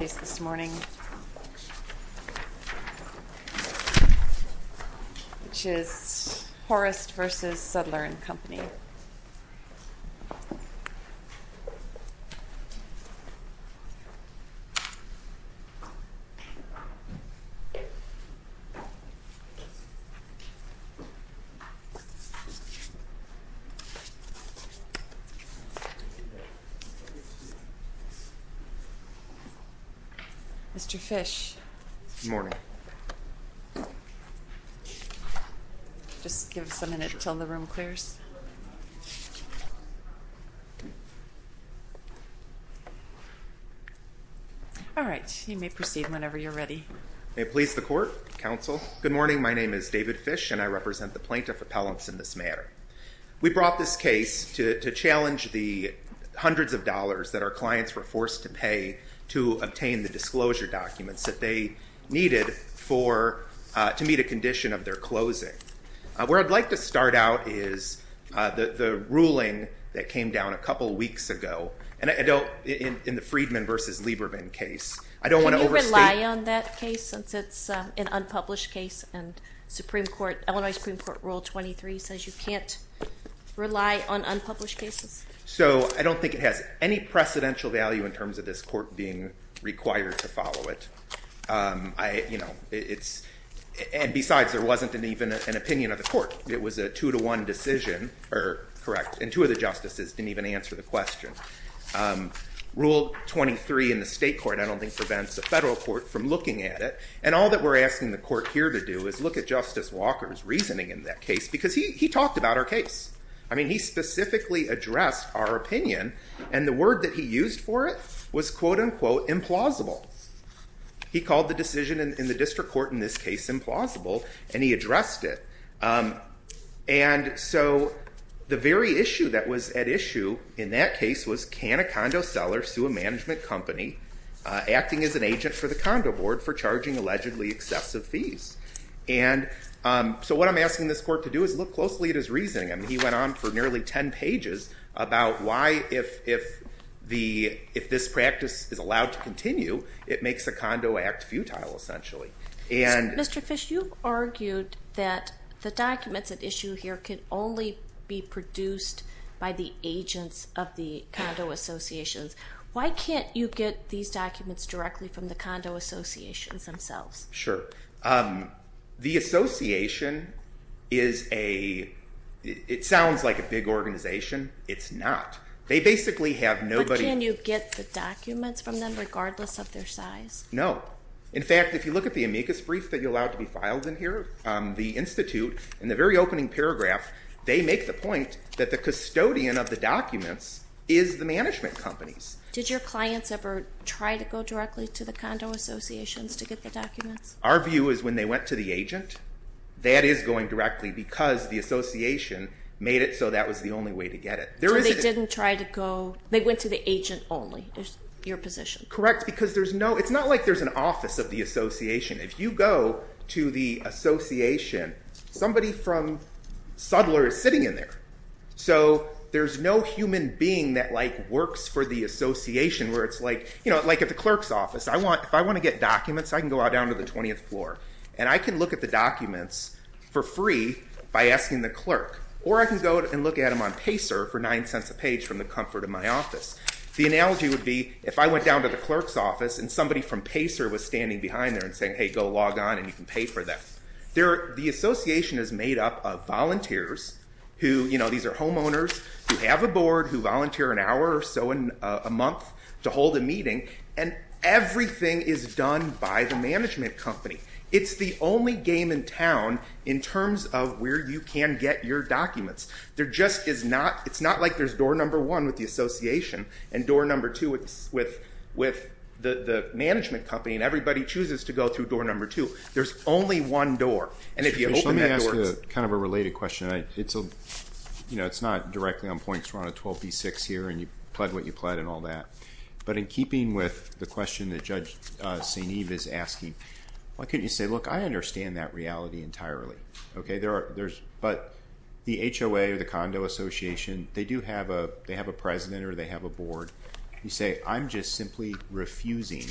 This morning, which is Horist v. Sudler & Company. Mr. Fish. Good morning. Just give us a minute until the room clears. All right, you may proceed whenever you're ready. May it please the Court, Counsel. Good morning, my name is David Fish and I represent the Plaintiff Appellants in this matter. We brought this case to challenge the hundreds of dollars that our clients were forced to pay to obtain the disclosure documents that they needed to meet a condition of their closing. Where I'd like to start out is the ruling that came down a couple weeks ago in the Friedman v. Lieberman case. Can you rely on that case since it's an unpublished case and Illinois Supreme Court Rule 23 says you can't rely on unpublished cases? I don't think it has any precedential value in terms of this Court being required to follow it. Besides, there wasn't even an opinion of the Court. It was a two-to-one decision, and two of the justices didn't even answer the question. Rule 23 in the state court, I don't think, prevents the federal court from looking at it. And all that we're asking the Court here to do is look at Justice Walker's reasoning in that case because he talked about our case. I mean, he specifically addressed our opinion, and the word that he used for it was, quote-unquote, implausible. He called the decision in the district court in this case implausible, and he addressed it. And so the very issue that was at issue in that case was, can a condo seller sue a management company acting as an agent for the condo board for charging allegedly excessive fees? And so what I'm asking this Court to do is look closely at his reasoning. I mean, he went on for nearly 10 pages about why, if this practice is allowed to continue, it makes a condo act futile, essentially. Mr. Fish, you argued that the documents at issue here can only be produced by the agents of the condo associations. Why can't you get these documents directly from the condo associations themselves? Sure. The association is a – it sounds like a big organization. It's not. They basically have nobody – But can you get the documents from them regardless of their size? No. In fact, if you look at the amicus brief that you're allowed to be filed in here, the institute, in the very opening paragraph, they make the point that the custodian of the documents is the management companies. Did your clients ever try to go directly to the condo associations to get the documents? Our view is when they went to the agent, that is going directly because the association made it so that was the only way to get it. So they didn't try to go – they went to the agent only is your position? Correct, because there's no – it's not like there's an office of the association. If you go to the association, somebody from Suttler is sitting in there. So there's no human being that works for the association where it's like – like at the clerk's office. If I want to get documents, I can go down to the 20th floor and I can look at the documents for free by asking the clerk. Or I can go and look at them on Pacer for nine cents a page from the comfort of my office. The analogy would be if I went down to the clerk's office and somebody from Pacer was standing behind there and saying, hey, go log on and you can pay for that. The association is made up of volunteers who – these are homeowners who have a board, who volunteer an hour or so a month to hold a meeting, and everything is done by the management company. It's the only game in town in terms of where you can get your documents. There just is not – it's not like there's door number one with the association and door number two with the management company and everybody chooses to go through door number two. There's only one door. And if you open that door, it's – Let me ask you kind of a related question. It's a – you know, it's not directly on point. We're on a 12B6 here and you pled what you pled and all that. But in keeping with the question that Judge St. Eve is asking, why couldn't you say, look, I understand that reality entirely. But the HOA or the condo association, they do have a – they have a president or they have a board. You say, I'm just simply refusing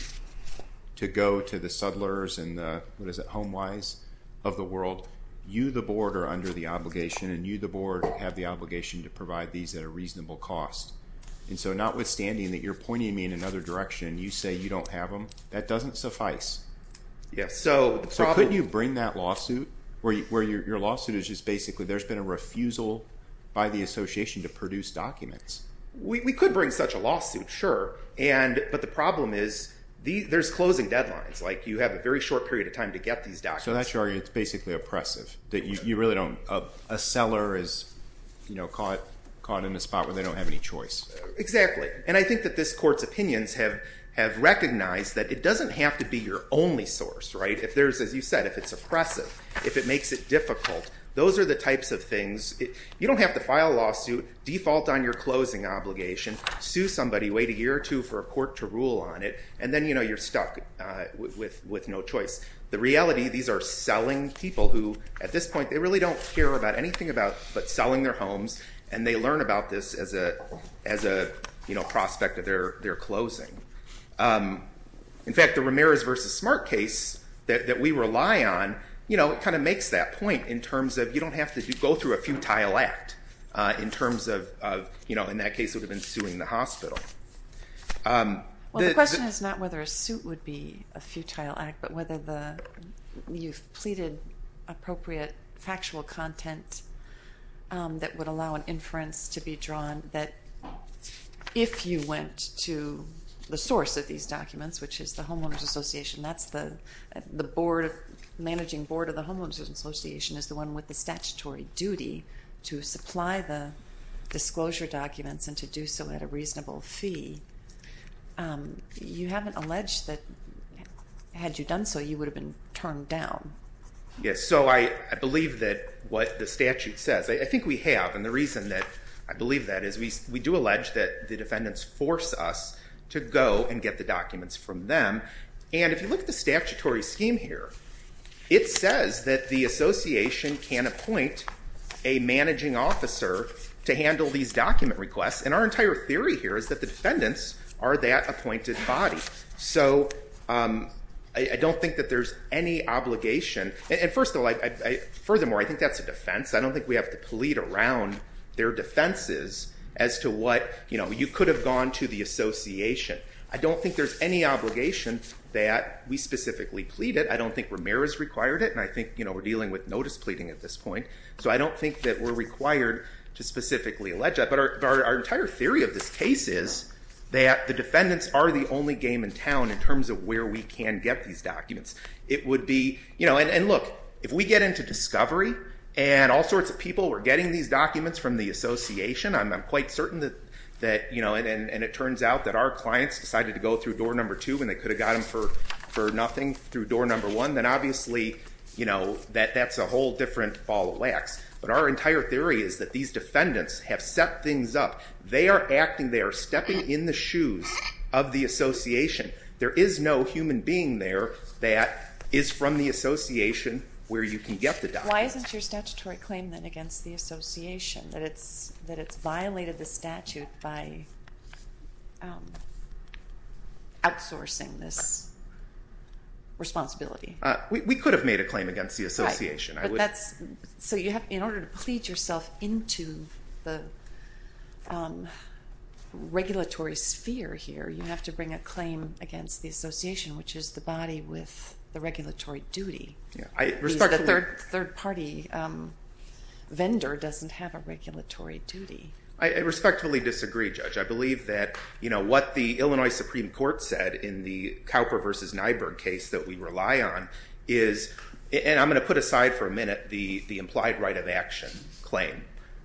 to go to the Suttlers and the – what is it – HomeWise of the world. You, the board, are under the obligation and you, the board, have the obligation to provide these at a reasonable cost. And so notwithstanding that you're pointing me in another direction, you say you don't have them, that doesn't suffice. Yes. So the problem – So couldn't you bring that lawsuit where your lawsuit is just basically there's been a refusal by the association to produce documents? We could bring such a lawsuit, sure. And – but the problem is there's closing deadlines. Like you have a very short period of time to get these documents. So that's your argument. It's basically oppressive that you really don't – a seller is caught in a spot where they don't have any choice. Exactly. And I think that this court's opinions have recognized that it doesn't have to be your only source, right? If there's – as you said, if it's oppressive, if it makes it difficult, those are the types of things – you don't have to file a lawsuit, default on your closing obligation, sue somebody, wait a year or two for a court to rule on it, and then you're stuck with no choice. The reality, these are selling people who, at this point, they really don't care about anything but selling their homes and they learn about this as a prospect of their closing. In fact, the Ramirez v. Smart case that we rely on, it kind of makes that point in terms of you don't have to go through a futile act in terms of, in that case, it would have been suing the hospital. Well, the question is not whether a suit would be a futile act, but whether you've pleaded appropriate factual content that would allow an inference to be drawn that, if you went to the source of these documents, which is the Homeowners Association, that's the managing board of the Homeowners Association is the one with the statutory duty to supply the disclosure documents and to do so at a reasonable fee. You haven't alleged that, had you done so, you would have been turned down. Yes. So I believe that what the statute says – I think we have, and the reason that I believe that is we do allege that the defendants force us to go and get the documents from them, and if you look at the statutory scheme here, it says that the association can appoint a managing officer to handle these document requests, and our entire theory here is that the defendants are that appointed body. So I don't think that there's any obligation – and first of all, furthermore, I think that's a defense. I don't think we have to plead around their defenses as to what – you could have gone to the association. I don't think there's any obligation that we specifically plead it. I don't think Ramirez required it, and I think we're dealing with notice pleading at this point, so I don't think that we're required to specifically allege that, but our entire theory of this case is that the defendants are the only game in town in terms of where we can get these documents. It would be – and look, if we get into discovery and all sorts of people were getting these documents from the association, I'm quite certain that – and it turns out that our clients decided to go through door number two when they could have got them for nothing through door number one, then obviously that's a whole different ball of wax. But our entire theory is that these defendants have set things up. They are acting – they are stepping in the shoes of the association. There is no human being there that is from the association where you can get the documents. Why isn't your statutory claim, then, against the association, that it's violated the statute by outsourcing this responsibility? We could have made a claim against the association. Right, but that's – so you have – in order to plead yourself into the regulatory sphere here, you have to bring a claim against the association, which is the body with the regulatory duty. The third-party vendor doesn't have a regulatory duty. I respectfully disagree, Judge. I believe that what the Illinois Supreme Court said in the Cowper v. Nyberg case that we rely on is – and I'm going to put aside for a minute the implied right of action claim.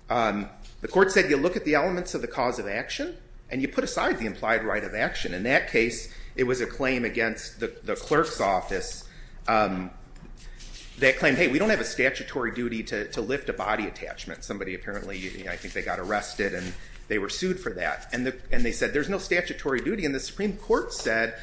The court said you look at the elements of the cause of action, and you put aside the implied right of action. In that case, it was a claim against the clerk's office that claimed, hey, we don't have a statutory duty to lift a body attachment. Somebody apparently – I think they got arrested, and they were sued for that. And they said there's no statutory duty. And the Supreme Court said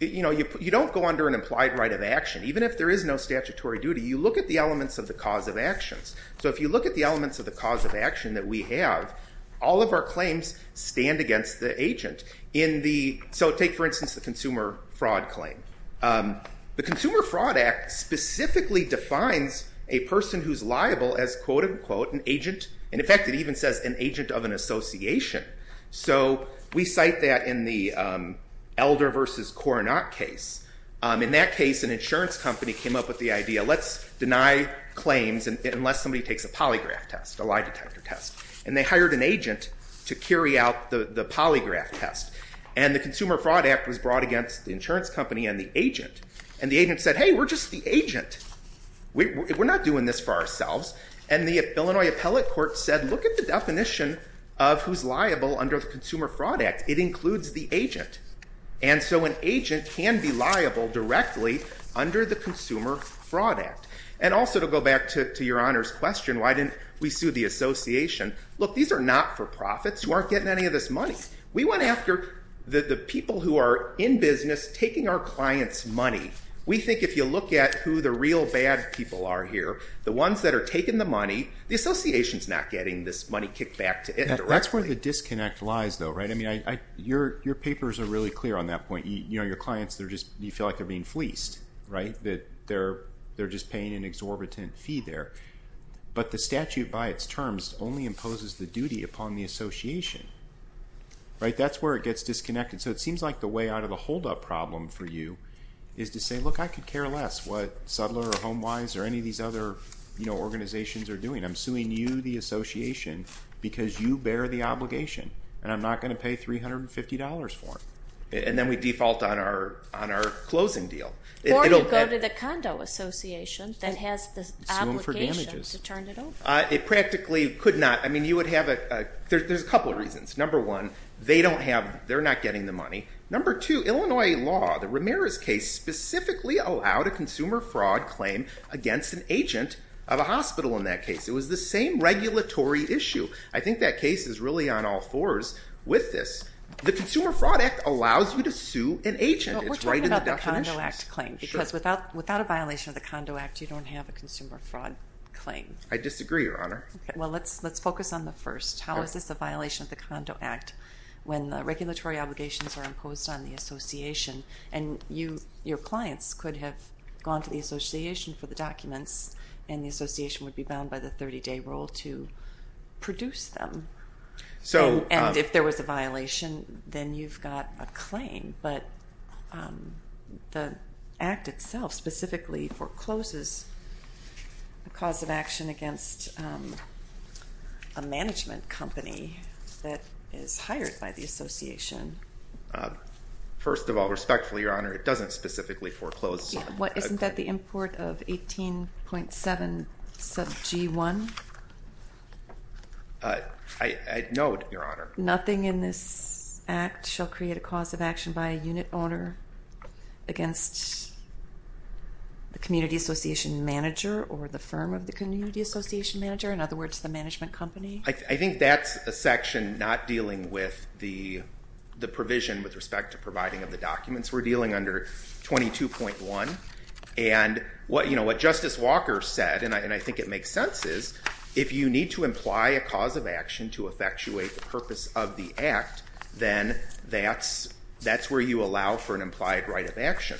you don't go under an implied right of action. Even if there is no statutory duty, you look at the elements of the cause of actions. So if you look at the elements of the cause of action that we have, all of our claims stand against the agent. So take, for instance, the consumer fraud claim. The Consumer Fraud Act specifically defines a person who's liable as, quote, unquote, an agent. And, in fact, it even says an agent of an association. So we cite that in the Elder v. Coronat case. In that case, an insurance company came up with the idea, let's deny claims unless somebody takes a polygraph test, a lie detector test. And they hired an agent to carry out the polygraph test. And the Consumer Fraud Act was brought against the insurance company and the agent. And the agent said, hey, we're just the agent. We're not doing this for ourselves. And the Illinois Appellate Court said look at the definition of who's liable under the Consumer Fraud Act. It includes the agent. And so an agent can be liable directly under the Consumer Fraud Act. And also to go back to your Honor's question, why didn't we sue the association? Look, these are not-for-profits who aren't getting any of this money. We went after the people who are in business taking our clients' money. We think if you look at who the real bad people are here, the ones that are taking the money, the association's not getting this money kicked back to it directly. That's where the disconnect lies, though, right? I mean, your papers are really clear on that point. You know, your clients, you feel like they're being fleeced, right? That they're just paying an exorbitant fee there. But the statute by its terms only imposes the duty upon the association, right? That's where it gets disconnected. So it seems like the way out of the holdup problem for you is to say, look, I could care less what Suttler or HomeWise or any of these other organizations are doing. I'm suing you, the association, because you bear the obligation. And I'm not going to pay $350 for it. And then we default on our closing deal. Or you go to the condo association that has the obligation to turn it over. It practically could not. I mean, you would have a – there's a couple of reasons. Number one, they don't have – they're not getting the money. Number two, Illinois law, the Ramirez case, specifically allowed a consumer fraud claim against an agent of a hospital in that case. It was the same regulatory issue. I think that case is really on all fours with this. The Consumer Fraud Act allows you to sue an agent. It's right in the definitions. We're talking about the Condo Act claim because without a violation of the Condo Act, you don't have a consumer fraud claim. I disagree, Your Honor. Well, let's focus on the first. How is this a violation of the Condo Act when the regulatory obligations are imposed on the association? And your clients could have gone to the association for the documents, and the association would be bound by the 30-day rule to produce them. And if there was a violation, then you've got a claim. But the act itself specifically forecloses a cause of action against a management company that is hired by the association. First of all, respectfully, Your Honor, it doesn't specifically foreclose. Isn't that the import of 18.7 sub G1? No, Your Honor. Nothing in this act shall create a cause of action by a unit owner against the community association manager or the firm of the community association manager, in other words, the management company? I think that's a section not dealing with the provision with respect to providing of the documents. We're dealing under 22.1. And what Justice Walker said, and I think it makes sense, is if you need to imply a cause of action to effectuate the purpose of the act, then that's where you allow for an implied right of action.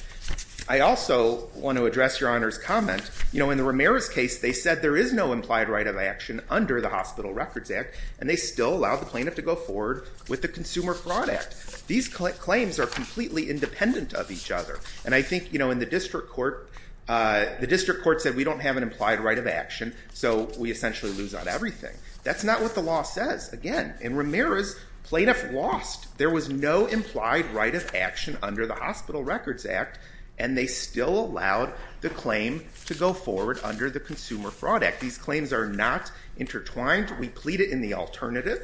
I also want to address Your Honor's comment. In the Ramirez case, they said there is no implied right of action under the Hospital Records Act, and they still allow the plaintiff to go forward with the Consumer Fraud Act. These claims are completely independent of each other. And I think in the district court, the district court said we don't have an implied right of action, so we essentially lose on everything. That's not what the law says, again. In Ramirez, plaintiff lost. There was no implied right of action under the Hospital Records Act, and they still allowed the claim to go forward under the Consumer Fraud Act. These claims are not intertwined. We plead it in the alternative.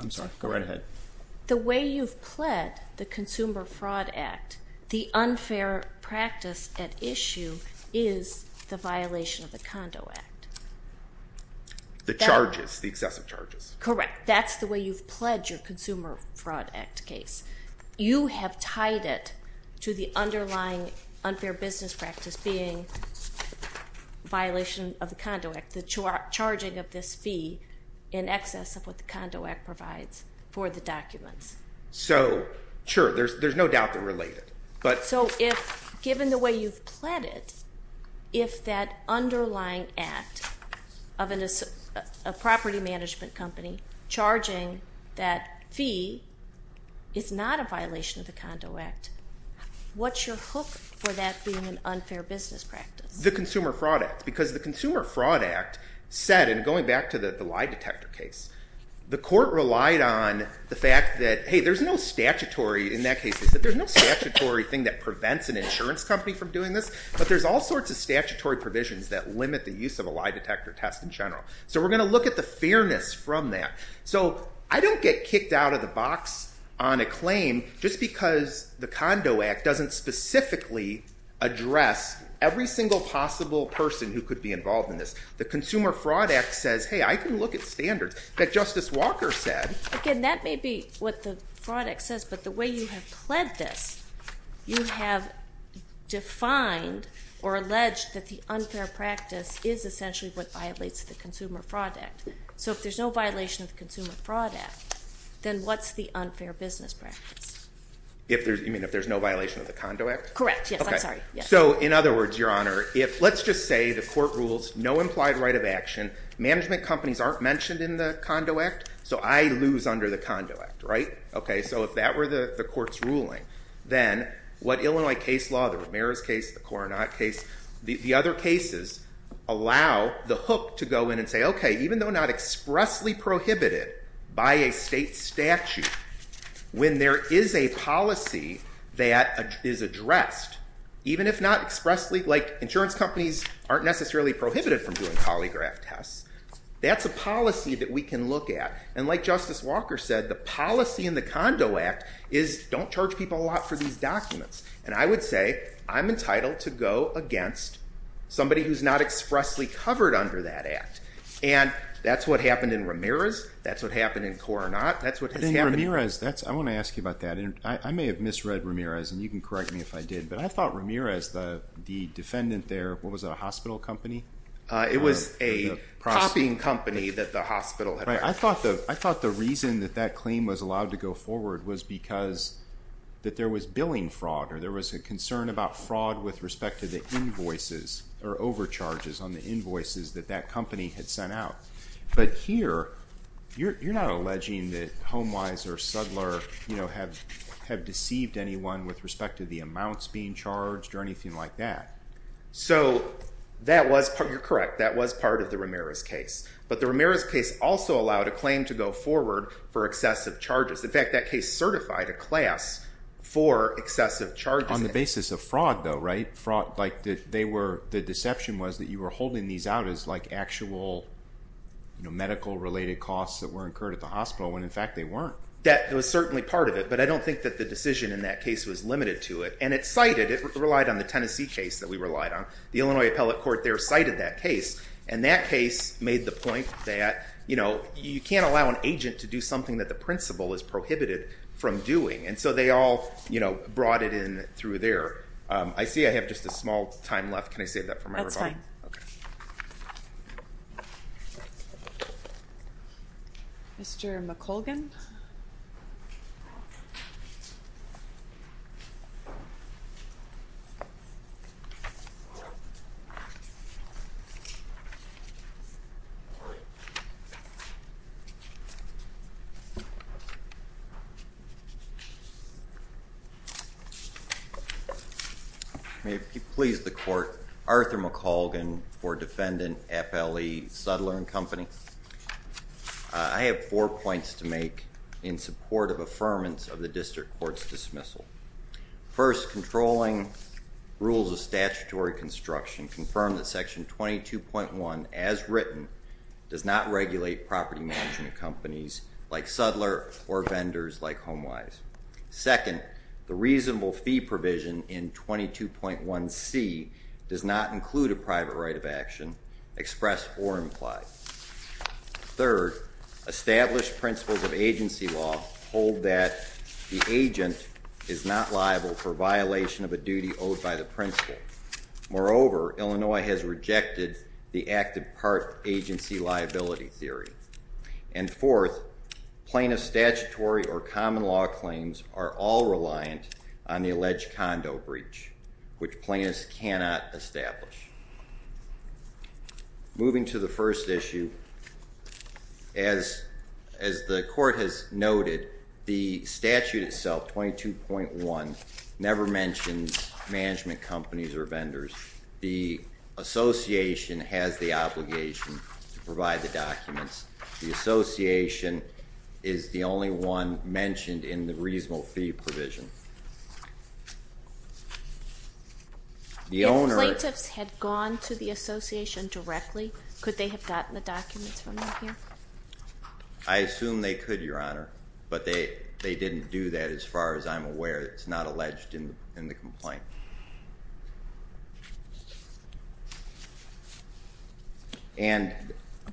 I'm sorry. Go right ahead. The way you've pled the Consumer Fraud Act, the unfair practice at issue is the violation of the Condo Act. The charges, the excessive charges. Correct. That's the way you've pledged your Consumer Fraud Act case. You have tied it to the underlying unfair business practice being violation of the Condo Act, the charging of this fee in excess of what the Condo Act provides for the documents. Sure. There's no doubt they're related. So given the way you've pled it, if that underlying act of a property management company charging that fee is not a violation of the Condo Act, what's your hook for that being an unfair business practice? The Consumer Fraud Act. Because the Consumer Fraud Act said, and going back to the lie detector case, the court relied on the fact that, hey, there's no statutory in that case. There's no statutory thing that prevents an insurance company from doing this, but there's all sorts of statutory provisions that limit the use of a lie detector test in general. So we're going to look at the fairness from that. So I don't get kicked out of the box on a claim just because the Condo Act doesn't specifically address every single possible person who could be involved in this. The Consumer Fraud Act says, hey, I can look at standards that Justice Walker said. Again, that may be what the Fraud Act says, but the way you have pled this, you have defined or alleged that the unfair practice is essentially what violates the Consumer Fraud Act. So if there's no violation of the Consumer Fraud Act, then what's the unfair business practice? You mean if there's no violation of the Condo Act? Correct. Yes, I'm sorry. So in other words, Your Honor, let's just say the court rules no implied right of action. Management companies aren't mentioned in the Condo Act, so I lose under the Condo Act, right? So if that were the court's ruling, then what Illinois case law, the Ramirez case, the Coronat case, the other cases allow the hook to go in and say, okay, even though not expressly prohibited by a state statute, when there is a policy that is addressed, even if not expressly, like insurance companies aren't necessarily prohibited from doing polygraph tests, that's a policy that we can look at. And like Justice Walker said, the policy in the Condo Act is don't charge people a lot for these documents. And I would say I'm entitled to go against somebody who's not expressly covered under that act. And that's what happened in Ramirez. That's what happened in Coronat. Ramirez, I want to ask you about that. I may have misread Ramirez, and you can correct me if I did. But I thought Ramirez, the defendant there, what was it, a hospital company? It was a copying company that the hospital had. Right. I thought the reason that that claim was allowed to go forward was because that there was billing fraud or there was a concern about fraud with respect to the invoices or overcharges on the invoices that that company had sent out. But here, you're not alleging that HomeWise or Sudler, you know, have deceived anyone with respect to the amounts being charged or anything like that. So that was, you're correct, that was part of the Ramirez case. But the Ramirez case also allowed a claim to go forward for excessive charges. In fact, that case certified a class for excessive charges. On the basis of fraud, though, right? The deception was that you were holding these out as, like, actual medical-related costs that were incurred at the hospital when, in fact, they weren't. That was certainly part of it, but I don't think that the decision in that case was limited to it. And it cited, it relied on the Tennessee case that we relied on. The Illinois Appellate Court there cited that case, and that case made the point that, you know, you can't allow an agent to do something that the principal is prohibited from doing. And so they all, you know, brought it in through there. I see I have just a small time left. Can I save that for my rebuttal? That's fine. Mr. McColgan. May it please the court. Arthur McColgan for Defendant FLE Suttler and Company. I have four points to make in support of affirmance of the district court's dismissal. First, controlling rules of statutory construction confirm that Section 22.1, as written, does not regulate property management companies like Suttler or vendors like HomeWise. Second, the reasonable fee provision in 22.1C does not include a private right of action expressed or implied. Third, established principles of agency law hold that the agent is not liable for violation of a duty owed by the principal. Moreover, Illinois has rejected the active part agency liability theory. And fourth, plaintiff statutory or common law claims are all reliant on the alleged condo breach, which plaintiffs cannot establish. Moving to the first issue, as the court has noted, the statute itself, 22.1, never mentions management companies or vendors. The association has the obligation to provide the documents. The association is the only one mentioned in the reasonable fee provision. If plaintiffs had gone to the association directly, could they have gotten the documents from them here? I assume they could, Your Honor. But they didn't do that, as far as I'm aware. It's not alleged in the complaint. And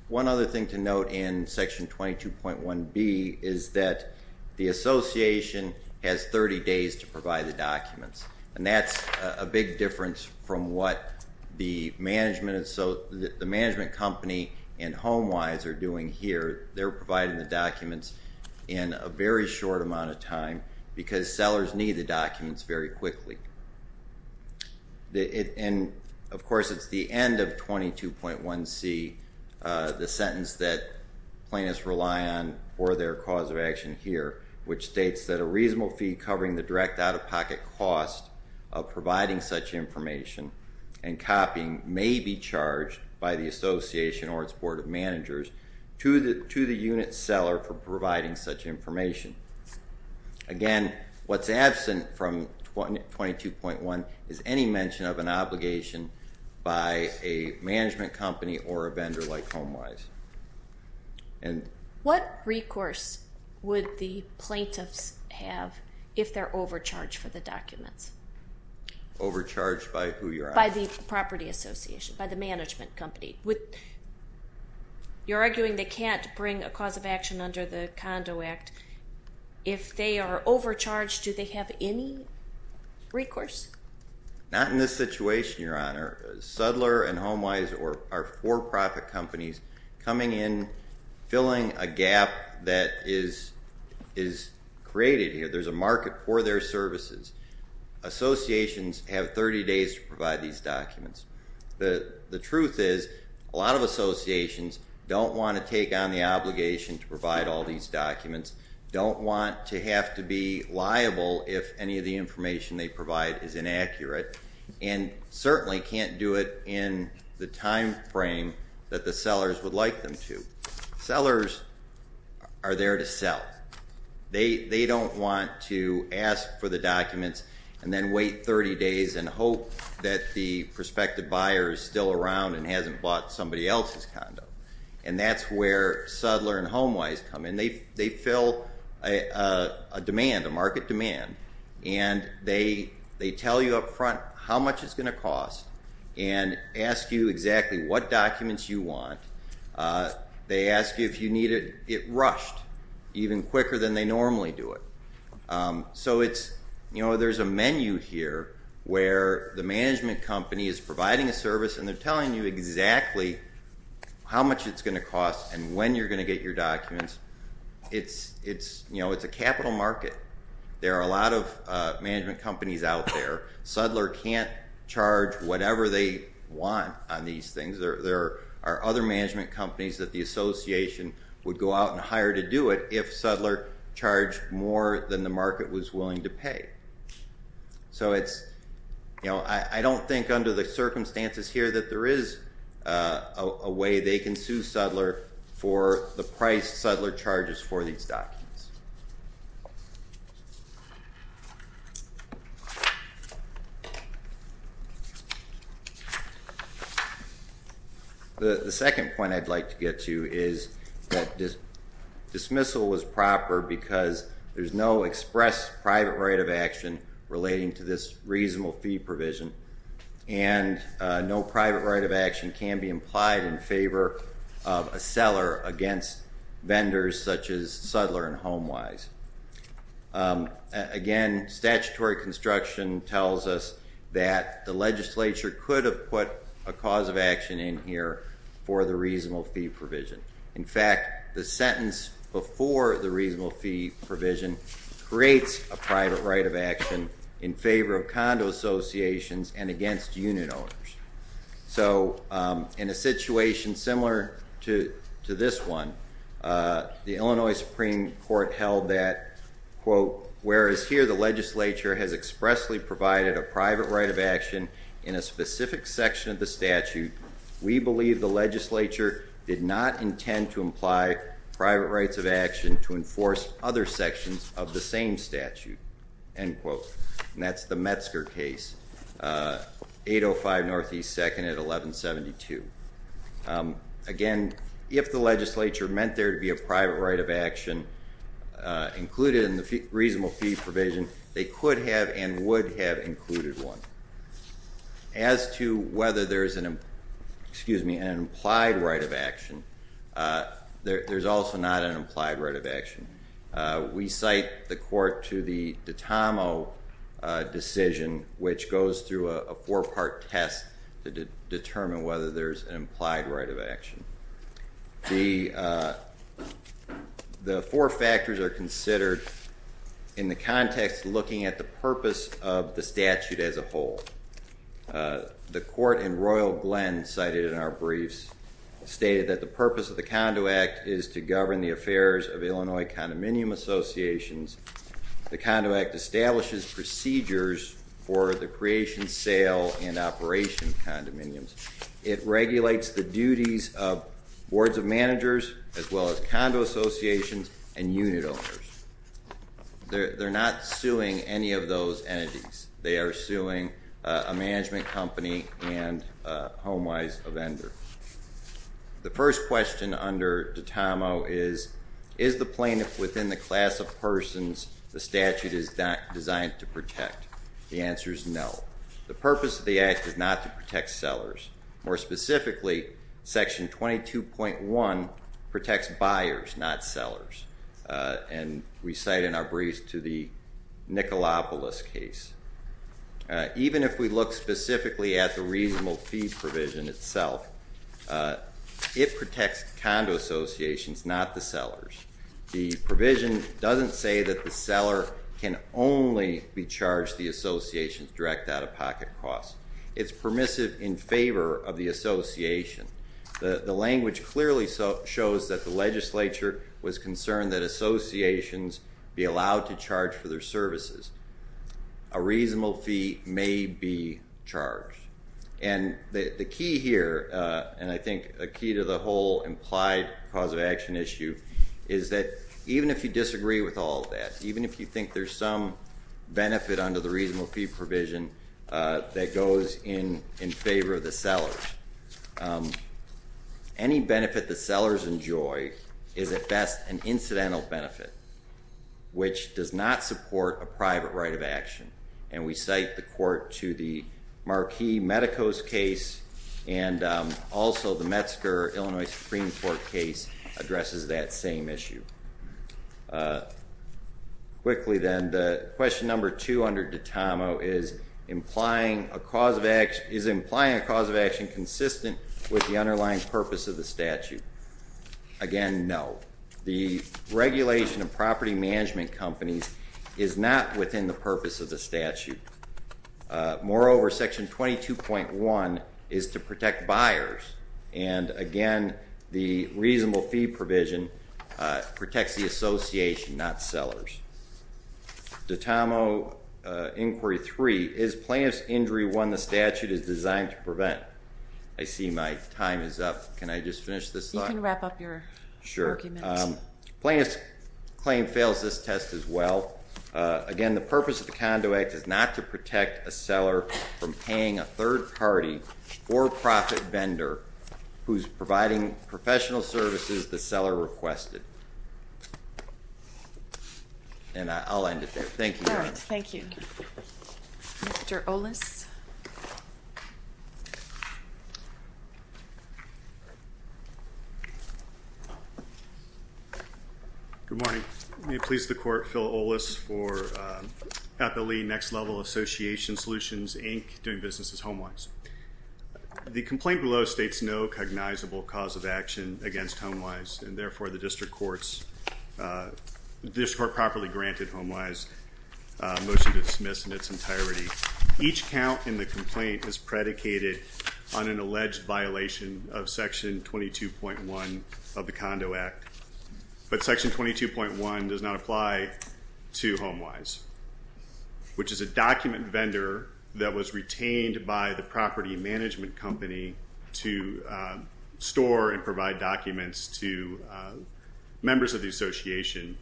one other thing to note in section 22.1B is that the association has 30 days to provide the documents. And that's a big difference from what the management company and HomeWise are doing here. They're providing the documents in a very short amount of time because sellers need the documents very quickly. And, of course, it's the end of 22.1C, the sentence that plaintiffs rely on for their cause of action here, which states that a reasonable fee covering the direct out-of-pocket cost of providing such information and copying may be charged by the association or its board of managers to the unit seller for providing such information. Again, what's absent from 22.1 is any mention of an obligation by a management company or a vendor like HomeWise. What recourse would the plaintiffs have if they're overcharged for the documents? Overcharged by who, Your Honor? By the property association, by the management company. You're arguing they can't bring a cause of action under the Condo Act. If they are overcharged, do they have any recourse? Not in this situation, Your Honor. Sudler and HomeWise are for-profit companies coming in, filling a gap that is created here. There's a market for their services. Associations have 30 days to provide these documents. The truth is a lot of associations don't want to take on the obligation to provide all these documents, don't want to have to be liable if any of the information they provide is inaccurate, and certainly can't do it in the time frame that the sellers would like them to. Sellers are there to sell. They don't want to ask for the documents and then wait 30 days and hope that the prospective buyer is still around and hasn't bought somebody else's condo. And that's where Sudler and HomeWise come in. They fill a demand, a market demand, and they tell you up front how much it's going to cost and ask you exactly what documents you want. They ask you if you need it. It rushed even quicker than they normally do it. So there's a menu here where the management company is providing a service and they're telling you exactly how much it's going to cost and when you're going to get your documents. It's a capital market. There are a lot of management companies out there. Sudler can't charge whatever they want on these things. There are other management companies that the association would go out and hire to do it if Sudler charged more than the market was willing to pay. So I don't think under the circumstances here that there is a way they can sue Sudler for the price Sudler charges for these documents. The second point I'd like to get to is that dismissal was proper because there's no express private right of action relating to this reasonable fee provision and no private right of action can be implied in favor of a seller against vendors such as Sudler and HomeWise. Again, statutory construction tells us that the legislature could have put a cause of action in here for the reasonable fee provision. In fact, the sentence before the reasonable fee provision creates a private right of action in favor of condo associations and against unit owners. So in a situation similar to this one, the Illinois Supreme Court held that quote, whereas here the legislature has expressly provided a private right of action in a specific section of the statute, we believe the legislature did not intend to imply private rights of action to enforce other sections of the same statute, end quote. And that's the Metzger case. 805 Northeast 2nd at 1172. Again, if the legislature meant there to be a private right of action included in the reasonable fee provision, they could have and would have included one. As to whether there's an implied right of action, there's also not an implied right of action. We cite the court to the Dottamo decision, which goes through a four-part test to determine whether there's an implied right of action. The four factors are considered in the context looking at the purpose of the statute as a whole. The court in Royal Glen cited in our briefs stated that the purpose of the Condo Act is to govern the affairs of Illinois condominium associations. The Condo Act establishes procedures for the creation, sale, and operation of condominiums. It regulates the duties of boards of managers as well as condo associations and unit owners. They're not suing any of those entities. They are suing a management company and HomeWise, a vendor. The first question under Dottamo is, is the plaintiff within the class of persons the statute is designed to protect? The answer is no. The purpose of the act is not to protect sellers. More specifically, Section 22.1 protects buyers, not sellers, and we cite in our briefs to the Nikolaopolis case. Even if we look specifically at the reasonable fee provision itself, it protects condo associations, not the sellers. The provision doesn't say that the seller can only be charged the association's direct out-of-pocket costs. It's permissive in favor of the association. The language clearly shows that the legislature was concerned that associations be allowed to charge for their services. A reasonable fee may be charged. And the key here, and I think a key to the whole implied cause of action issue, is that even if you disagree with all of that, even if you think there's some benefit under the reasonable fee provision that goes in favor of the sellers, any benefit the sellers enjoy is at best an incidental benefit, which does not support a private right of action. And we cite the court to the Marquis-Medicos case, and also the Metzger-Illinois Supreme Court case addresses that same issue. Quickly then, the question number two under DITAMO is is implying a cause of action consistent with the underlying purpose of the statute? Again, no. The regulation of property management companies is not within the purpose of the statute. Moreover, section 22.1 is to protect buyers. And again, the reasonable fee provision protects the association, not sellers. DITAMO inquiry three, is plaintiff's injury one the statute is designed to prevent? I see my time is up. Can I just finish this thought? You can wrap up your argument. Sure. Plaintiff's claim fails this test as well. Again, the purpose of the Conduit Act is not to protect a seller from paying a third-party, for-profit vendor who's providing professional services the seller requested. And I'll end it there. Thank you. All right, thank you. Mr. Olis? Good morning. May it please the court, Phil Olis for APALE, Next Level Association Solutions, Inc., doing businesses home-wise. The complaint below states no cognizable cause of action against home-wise, and therefore the district court properly granted home-wise motion to dismiss in its entirety. Each count in the complaint is predicated on an alleged violation of section 22.1 of the Conduit Act, but section 22.1 does not apply to home-wise, which is a document vendor that was retained by the property management company to store and provide documents to members of the association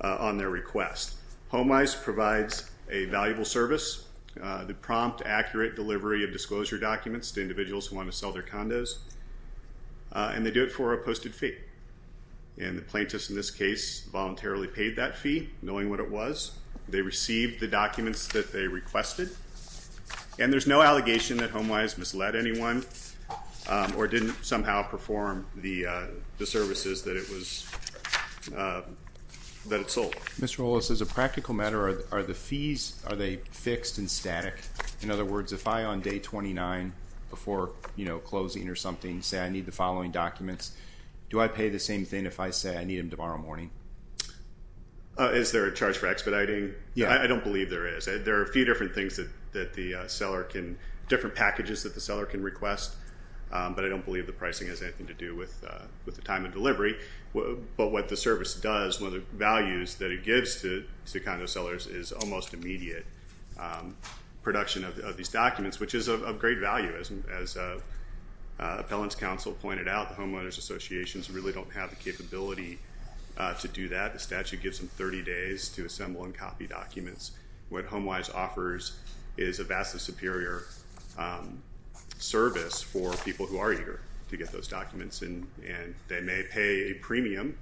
on their request. Home-wise provides a valuable service that prompt accurate delivery of disclosure documents to individuals who want to sell their condos, and they do it for a posted fee. And the plaintiff, in this case, voluntarily paid that fee, knowing what it was. They received the documents that they requested, and there's no allegation that home-wise misled anyone or didn't somehow perform the services that it sold. Mr. Willis, as a practical matter, are the fees, are they fixed and static? In other words, if I, on day 29, before closing or something, say I need the following documents, do I pay the same thing if I say I need them tomorrow morning? Is there a charge for expediting? I don't believe there is. There are a few different packages that the seller can request, but I don't believe the pricing has anything to do with the time of delivery. But what the service does, one of the values that it gives to condo sellers, is almost immediate production of these documents, which is of great value. As appellant's counsel pointed out, the homeowners associations really don't have the capability to do that. The statute gives them 30 days to assemble and copy documents. What home-wise offers is a vastly superior service for people who are eager to get those documents, and they may pay a premium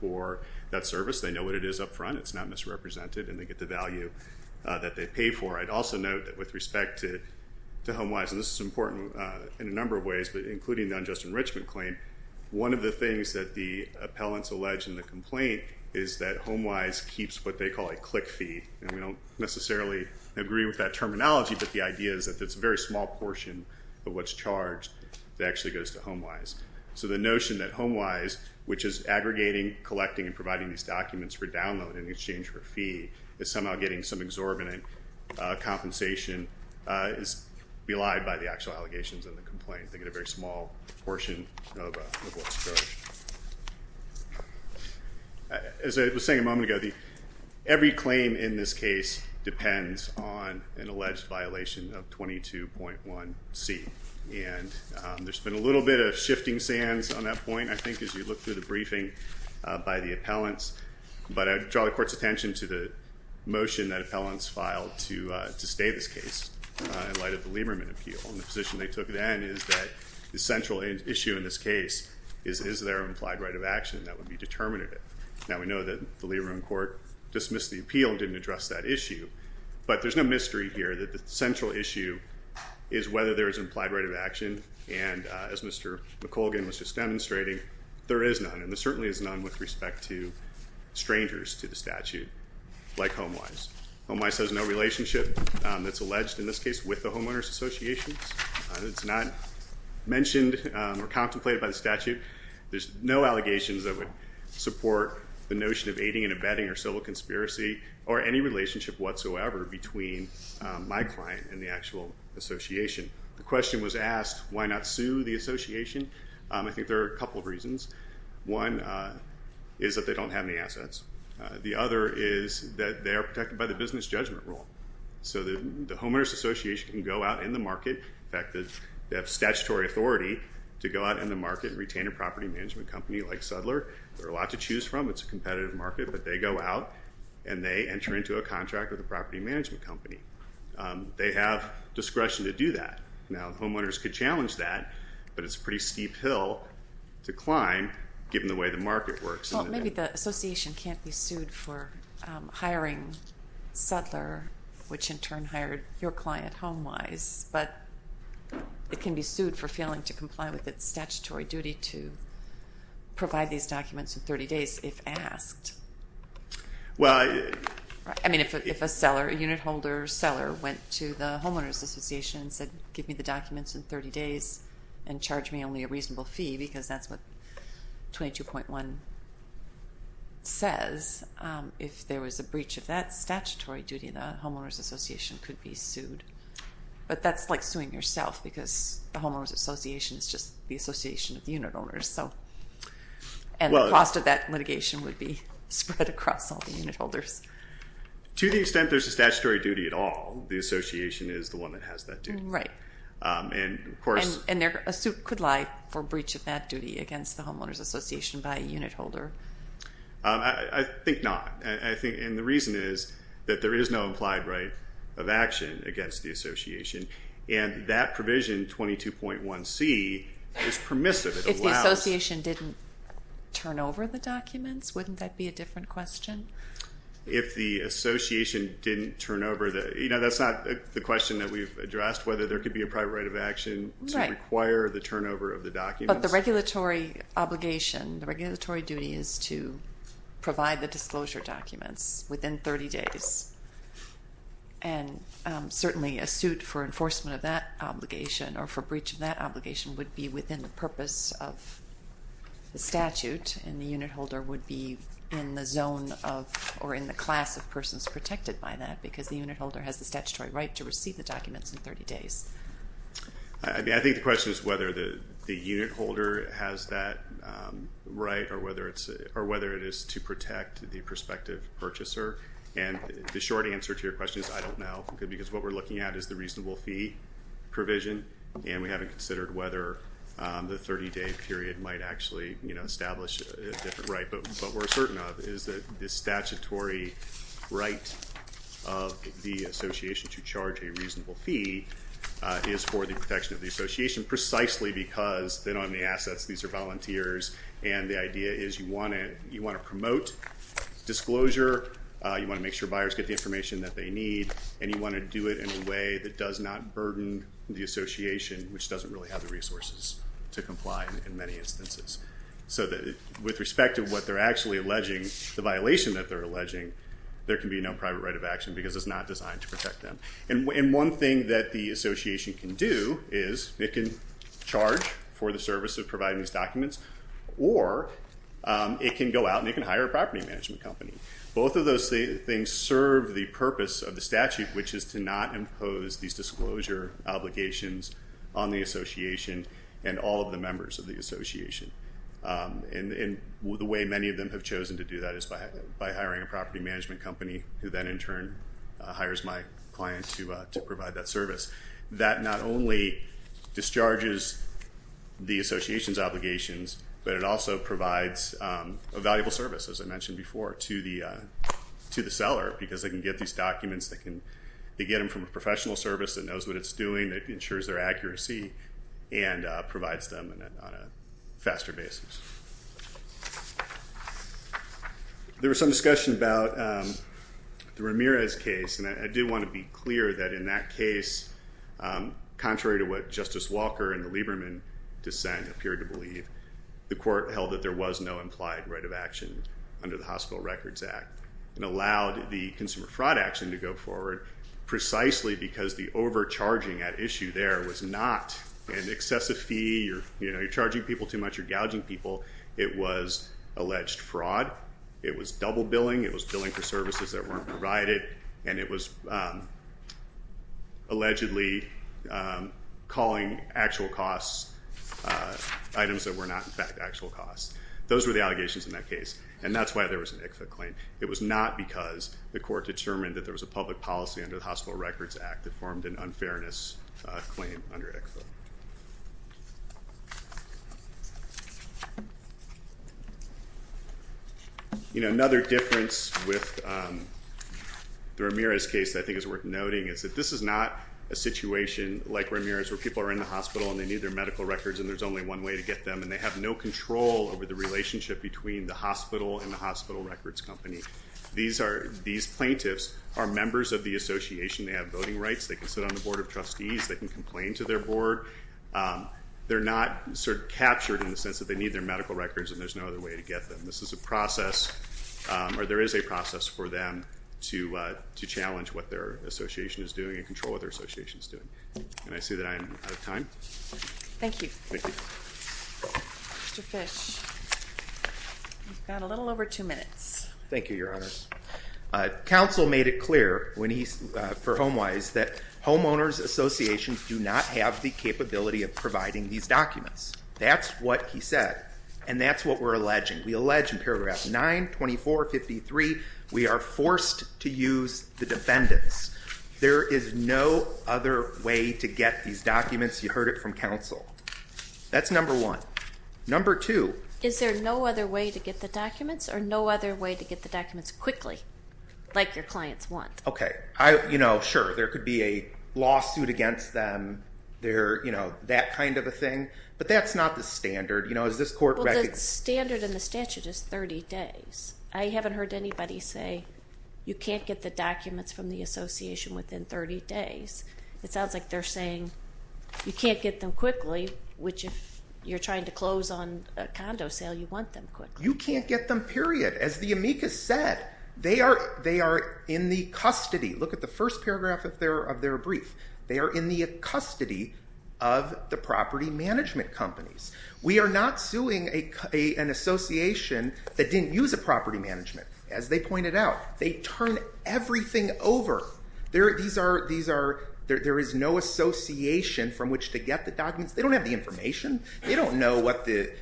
for that service. They know what it is up front. It's not misrepresented, and they get the value that they pay for. I'd also note that with respect to home-wise, and this is important in a number of ways, but including the unjust enrichment claim, one of the things that the appellants allege in the complaint is that home-wise keeps what they call a click fee, and we don't necessarily agree with that terminology, but the idea is that it's a very small portion of what's charged that actually goes to home-wise. So the notion that home-wise, which is aggregating, collecting, and providing these documents for download in exchange for a fee, is somehow getting some exorbitant compensation, is belied by the actual allegations in the complaint. They get a very small portion of what's charged. As I was saying a moment ago, every claim in this case depends on an alleged violation of 22.1C, and there's been a little bit of shifting sands on that point, I think, as you look through the briefing by the appellants. But I draw the Court's attention to the motion that appellants filed to stay this case in light of the Lieberman appeal, and the position they took then is that the central issue in this case is, is there an implied right of action that would be determinative? Now, we know that the Lieberman court dismissed the appeal and didn't address that issue, but there's no mystery here that the central issue is whether there is an implied right of action, and as Mr. McColgan was just demonstrating, there is none, and there certainly is none with respect to strangers to the statute like home-wise. Home-wise has no relationship that's alleged in this case with the homeowners' associations. It's not mentioned or contemplated by the statute. There's no allegations that would support the notion of aiding and abetting or civil conspiracy or any relationship whatsoever between my client and the actual association. The question was asked, why not sue the association? I think there are a couple of reasons. One is that they don't have any assets. The other is that they are protected by the business judgment rule, so the homeowners' association can go out in the market. In fact, they have statutory authority to go out in the market and retain a property management company like Sudler. There are a lot to choose from. It's a competitive market, but they go out, and they enter into a contract with a property management company. They have discretion to do that. Now, the homeowners could challenge that, but it's a pretty steep hill to climb given the way the market works. Well, maybe the association can't be sued for hiring Sudler, which in turn hired your client home-wise, but it can be sued for failing to comply with its statutory duty to provide these documents in 30 days if asked. I mean, if a seller, a unit holder seller, went to the homeowners' association and said give me the documents in 30 days and charge me only a reasonable fee because that's what 22.1 says, if there was a breach of that statutory duty, the homeowners' association could be sued. But that's like suing yourself because the homeowners' association is just the association of the unit owners, and the cost of that litigation would be spread across all the unit holders. To the extent there's a statutory duty at all, the association is the one that has that duty. Right. And a suit could lie for breach of that duty against the homeowners' association by a unit holder. I think not. And the reason is that there is no implied right of action against the association, and that provision, 22.1c, is permissive. If the association didn't turn over the documents, wouldn't that be a different question? If the association didn't turn over the – you know, that's not the question that we've addressed, whether there could be a prior right of action to require the turnover of the documents. But the regulatory obligation, the regulatory duty is to provide the disclosure documents within 30 days. And certainly a suit for enforcement of that obligation or for breach of that obligation would be within the purpose of the statute, and the unit holder would be in the zone of or in the class of persons protected by that because the unit holder has the statutory right to receive the documents in 30 days. I think the question is whether the unit holder has that right or whether it is to protect the prospective purchaser. And the short answer to your question is I don't know because what we're looking at is the reasonable fee provision, and we haven't considered whether the 30-day period might actually establish a different right. But what we're certain of is that the statutory right of the association to charge a reasonable fee is for the protection of the association precisely because they don't have any assets, these are volunteers, and the idea is you want to promote disclosure, you want to make sure buyers get the information that they need, and you want to do it in a way that does not burden the association, which doesn't really have the resources to comply in many instances. So with respect to what they're actually alleging, the violation that they're alleging, there can be no private right of action because it's not designed to protect them. And one thing that the association can do is it can charge for the service of providing these documents or it can go out and it can hire a property management company. Both of those things serve the purpose of the statute, which is to not impose these disclosure obligations on the association and all of the members of the association. And the way many of them have chosen to do that is by hiring a property management company who then in turn hires my client to provide that service. That not only discharges the association's obligations, but it also provides a valuable service, as I mentioned before, to the seller because they can get these documents, they get them from a professional service that knows what it's doing, that ensures their accuracy, and provides them on a faster basis. There was some discussion about the Ramirez case, and I do want to be clear that in that case, contrary to what Justice Walker and the Lieberman dissent appear to believe, the court held that there was no implied right of action under the Hospital Records Act and allowed the consumer fraud action to go forward precisely because the overcharging at issue there was not an excessive fee, you're charging people too much, you're gouging people, it was alleged fraud, it was double billing, it was billing for services that weren't provided, and it was allegedly calling actual costs items that were not in fact actual costs. Those were the allegations in that case, and that's why there was an ICFA claim. It was not because the court determined that there was a public policy under the Hospital Records Act that formed an unfairness claim under ICFA. You know, another difference with the Ramirez case that I think is worth noting is that this is not a situation like Ramirez where people are in the hospital and they need their medical records and there's only one way to get them, and they have no control over the relationship between the hospital and the hospital records company. These plaintiffs are members of the association. They have voting rights. They can sit on the Board of Trustees. They can complain to their board. They're not sort of captured in the sense that they need their medical records and there's no other way to get them. This is a process, or there is a process for them to challenge what their association is doing and control what their association is doing. And I see that I am out of time. Thank you. Thank you. Mr. Fish, you've got a little over two minutes. Thank you, Your Honor. Counsel made it clear for HomeWise that homeowners associations do not have the capability of providing these documents. That's what he said, and that's what we're alleging. We allege in paragraph 9, 2453, we are forced to use the defendants. There is no other way to get these documents. You heard it from counsel. That's number one. Number two. Is there no other way to get the documents or no other way to get the documents quickly, like your clients want? Okay. You know, sure, there could be a lawsuit against them, that kind of a thing, but that's not the standard. You know, is this court- Well, the standard in the statute is 30 days. I haven't heard anybody say you can't get the documents from the association within 30 days. It sounds like they're saying you can't get them quickly, which if you're trying to close on a condo sale, you want them quickly. You can't get them, period. As the amicus said, they are in the custody. Look at the first paragraph of their brief. They are in the custody of the property management companies. We are not suing an association that didn't use a property management, as they pointed out. They turn everything over. There is no association from which to get the documents. They don't have the information. They don't know what the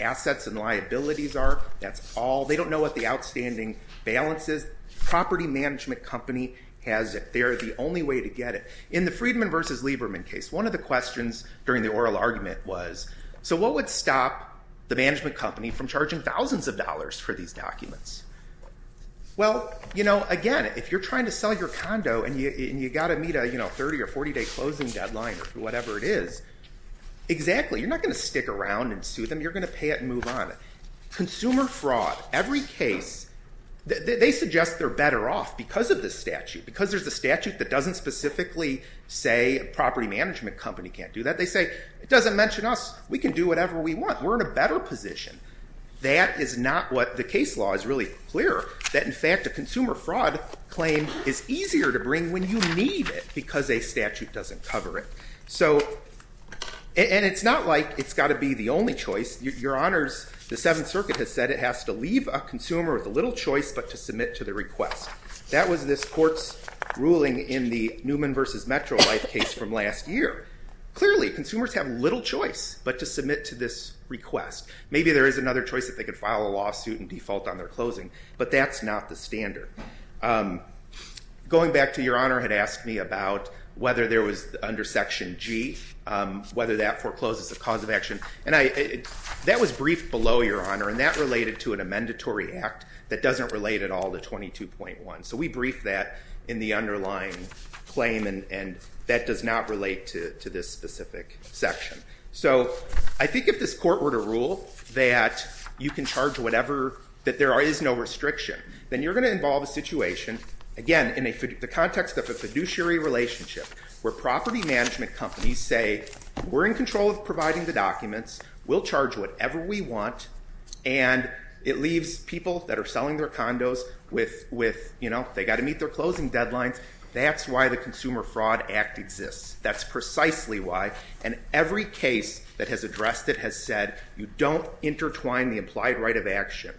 assets and liabilities are. That's all. They don't know what the outstanding balance is. The property management company has it. They are the only way to get it. In the Friedman v. Lieberman case, one of the questions during the oral argument was, so what would stop the management company from charging thousands of dollars for these documents? Well, again, if you're trying to sell your condo and you've got to meet a 30 or 40-day closing deadline or whatever it is, exactly. You're not going to stick around and sue them. You're going to pay it and move on. Consumer fraud, every case, they suggest they're better off because of this statute, because there's a statute that doesn't specifically say a property management company can't do that. They say, it doesn't mention us. We can do whatever we want. We're in a better position. That is not what the case law is really clear. That, in fact, a consumer fraud claim is easier to bring when you need it because a statute doesn't cover it. And it's not like it's got to be the only choice. Your Honors, the Seventh Circuit has said it has to leave a consumer with a little choice but to submit to the request. That was this court's ruling in the Newman v. Metrolife case from last year. Clearly, consumers have little choice but to submit to this request. Maybe there is another choice if they could file a lawsuit and default on their closing, but that's not the standard. Going back to your Honor had asked me about whether there was under Section G, whether that forecloses a cause of action. And that was briefed below, your Honor, and that related to an amendatory act that doesn't relate at all to 22.1. So we briefed that in the underlying claim, and that does not relate to this specific section. So I think if this court were to rule that you can charge whatever, that there is no restriction, then you're going to involve a situation, again, in the context of a fiduciary relationship, where property management companies say we're in control of providing the documents, we'll charge whatever we want, and it leaves people that are selling their condos with, you know, they've got to meet their closing deadlines. That's why the Consumer Fraud Act exists. That's precisely why, and every case that has addressed it has said you don't intertwine the implied right of action.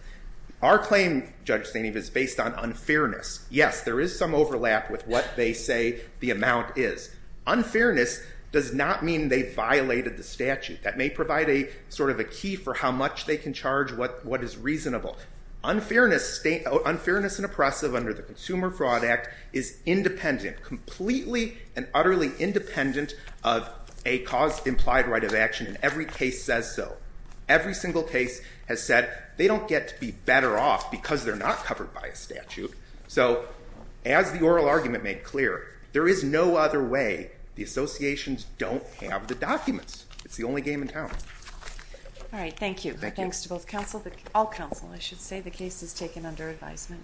Our claim, Judge Steineve, is based on unfairness. Yes, there is some overlap with what they say the amount is. Unfairness does not mean they violated the statute. That may provide a sort of a key for how much they can charge, what is reasonable. Unfairness and oppressive under the Consumer Fraud Act is independent, completely and utterly independent of a cause implied right of action, and every case says so. Every single case has said they don't get to be better off because they're not covered by a statute. So as the oral argument made clear, there is no other way. The associations don't have the documents. It's the only game in town. All right, thank you. Thanks to both counsel, all counsel, I should say. The case is taken under advisement.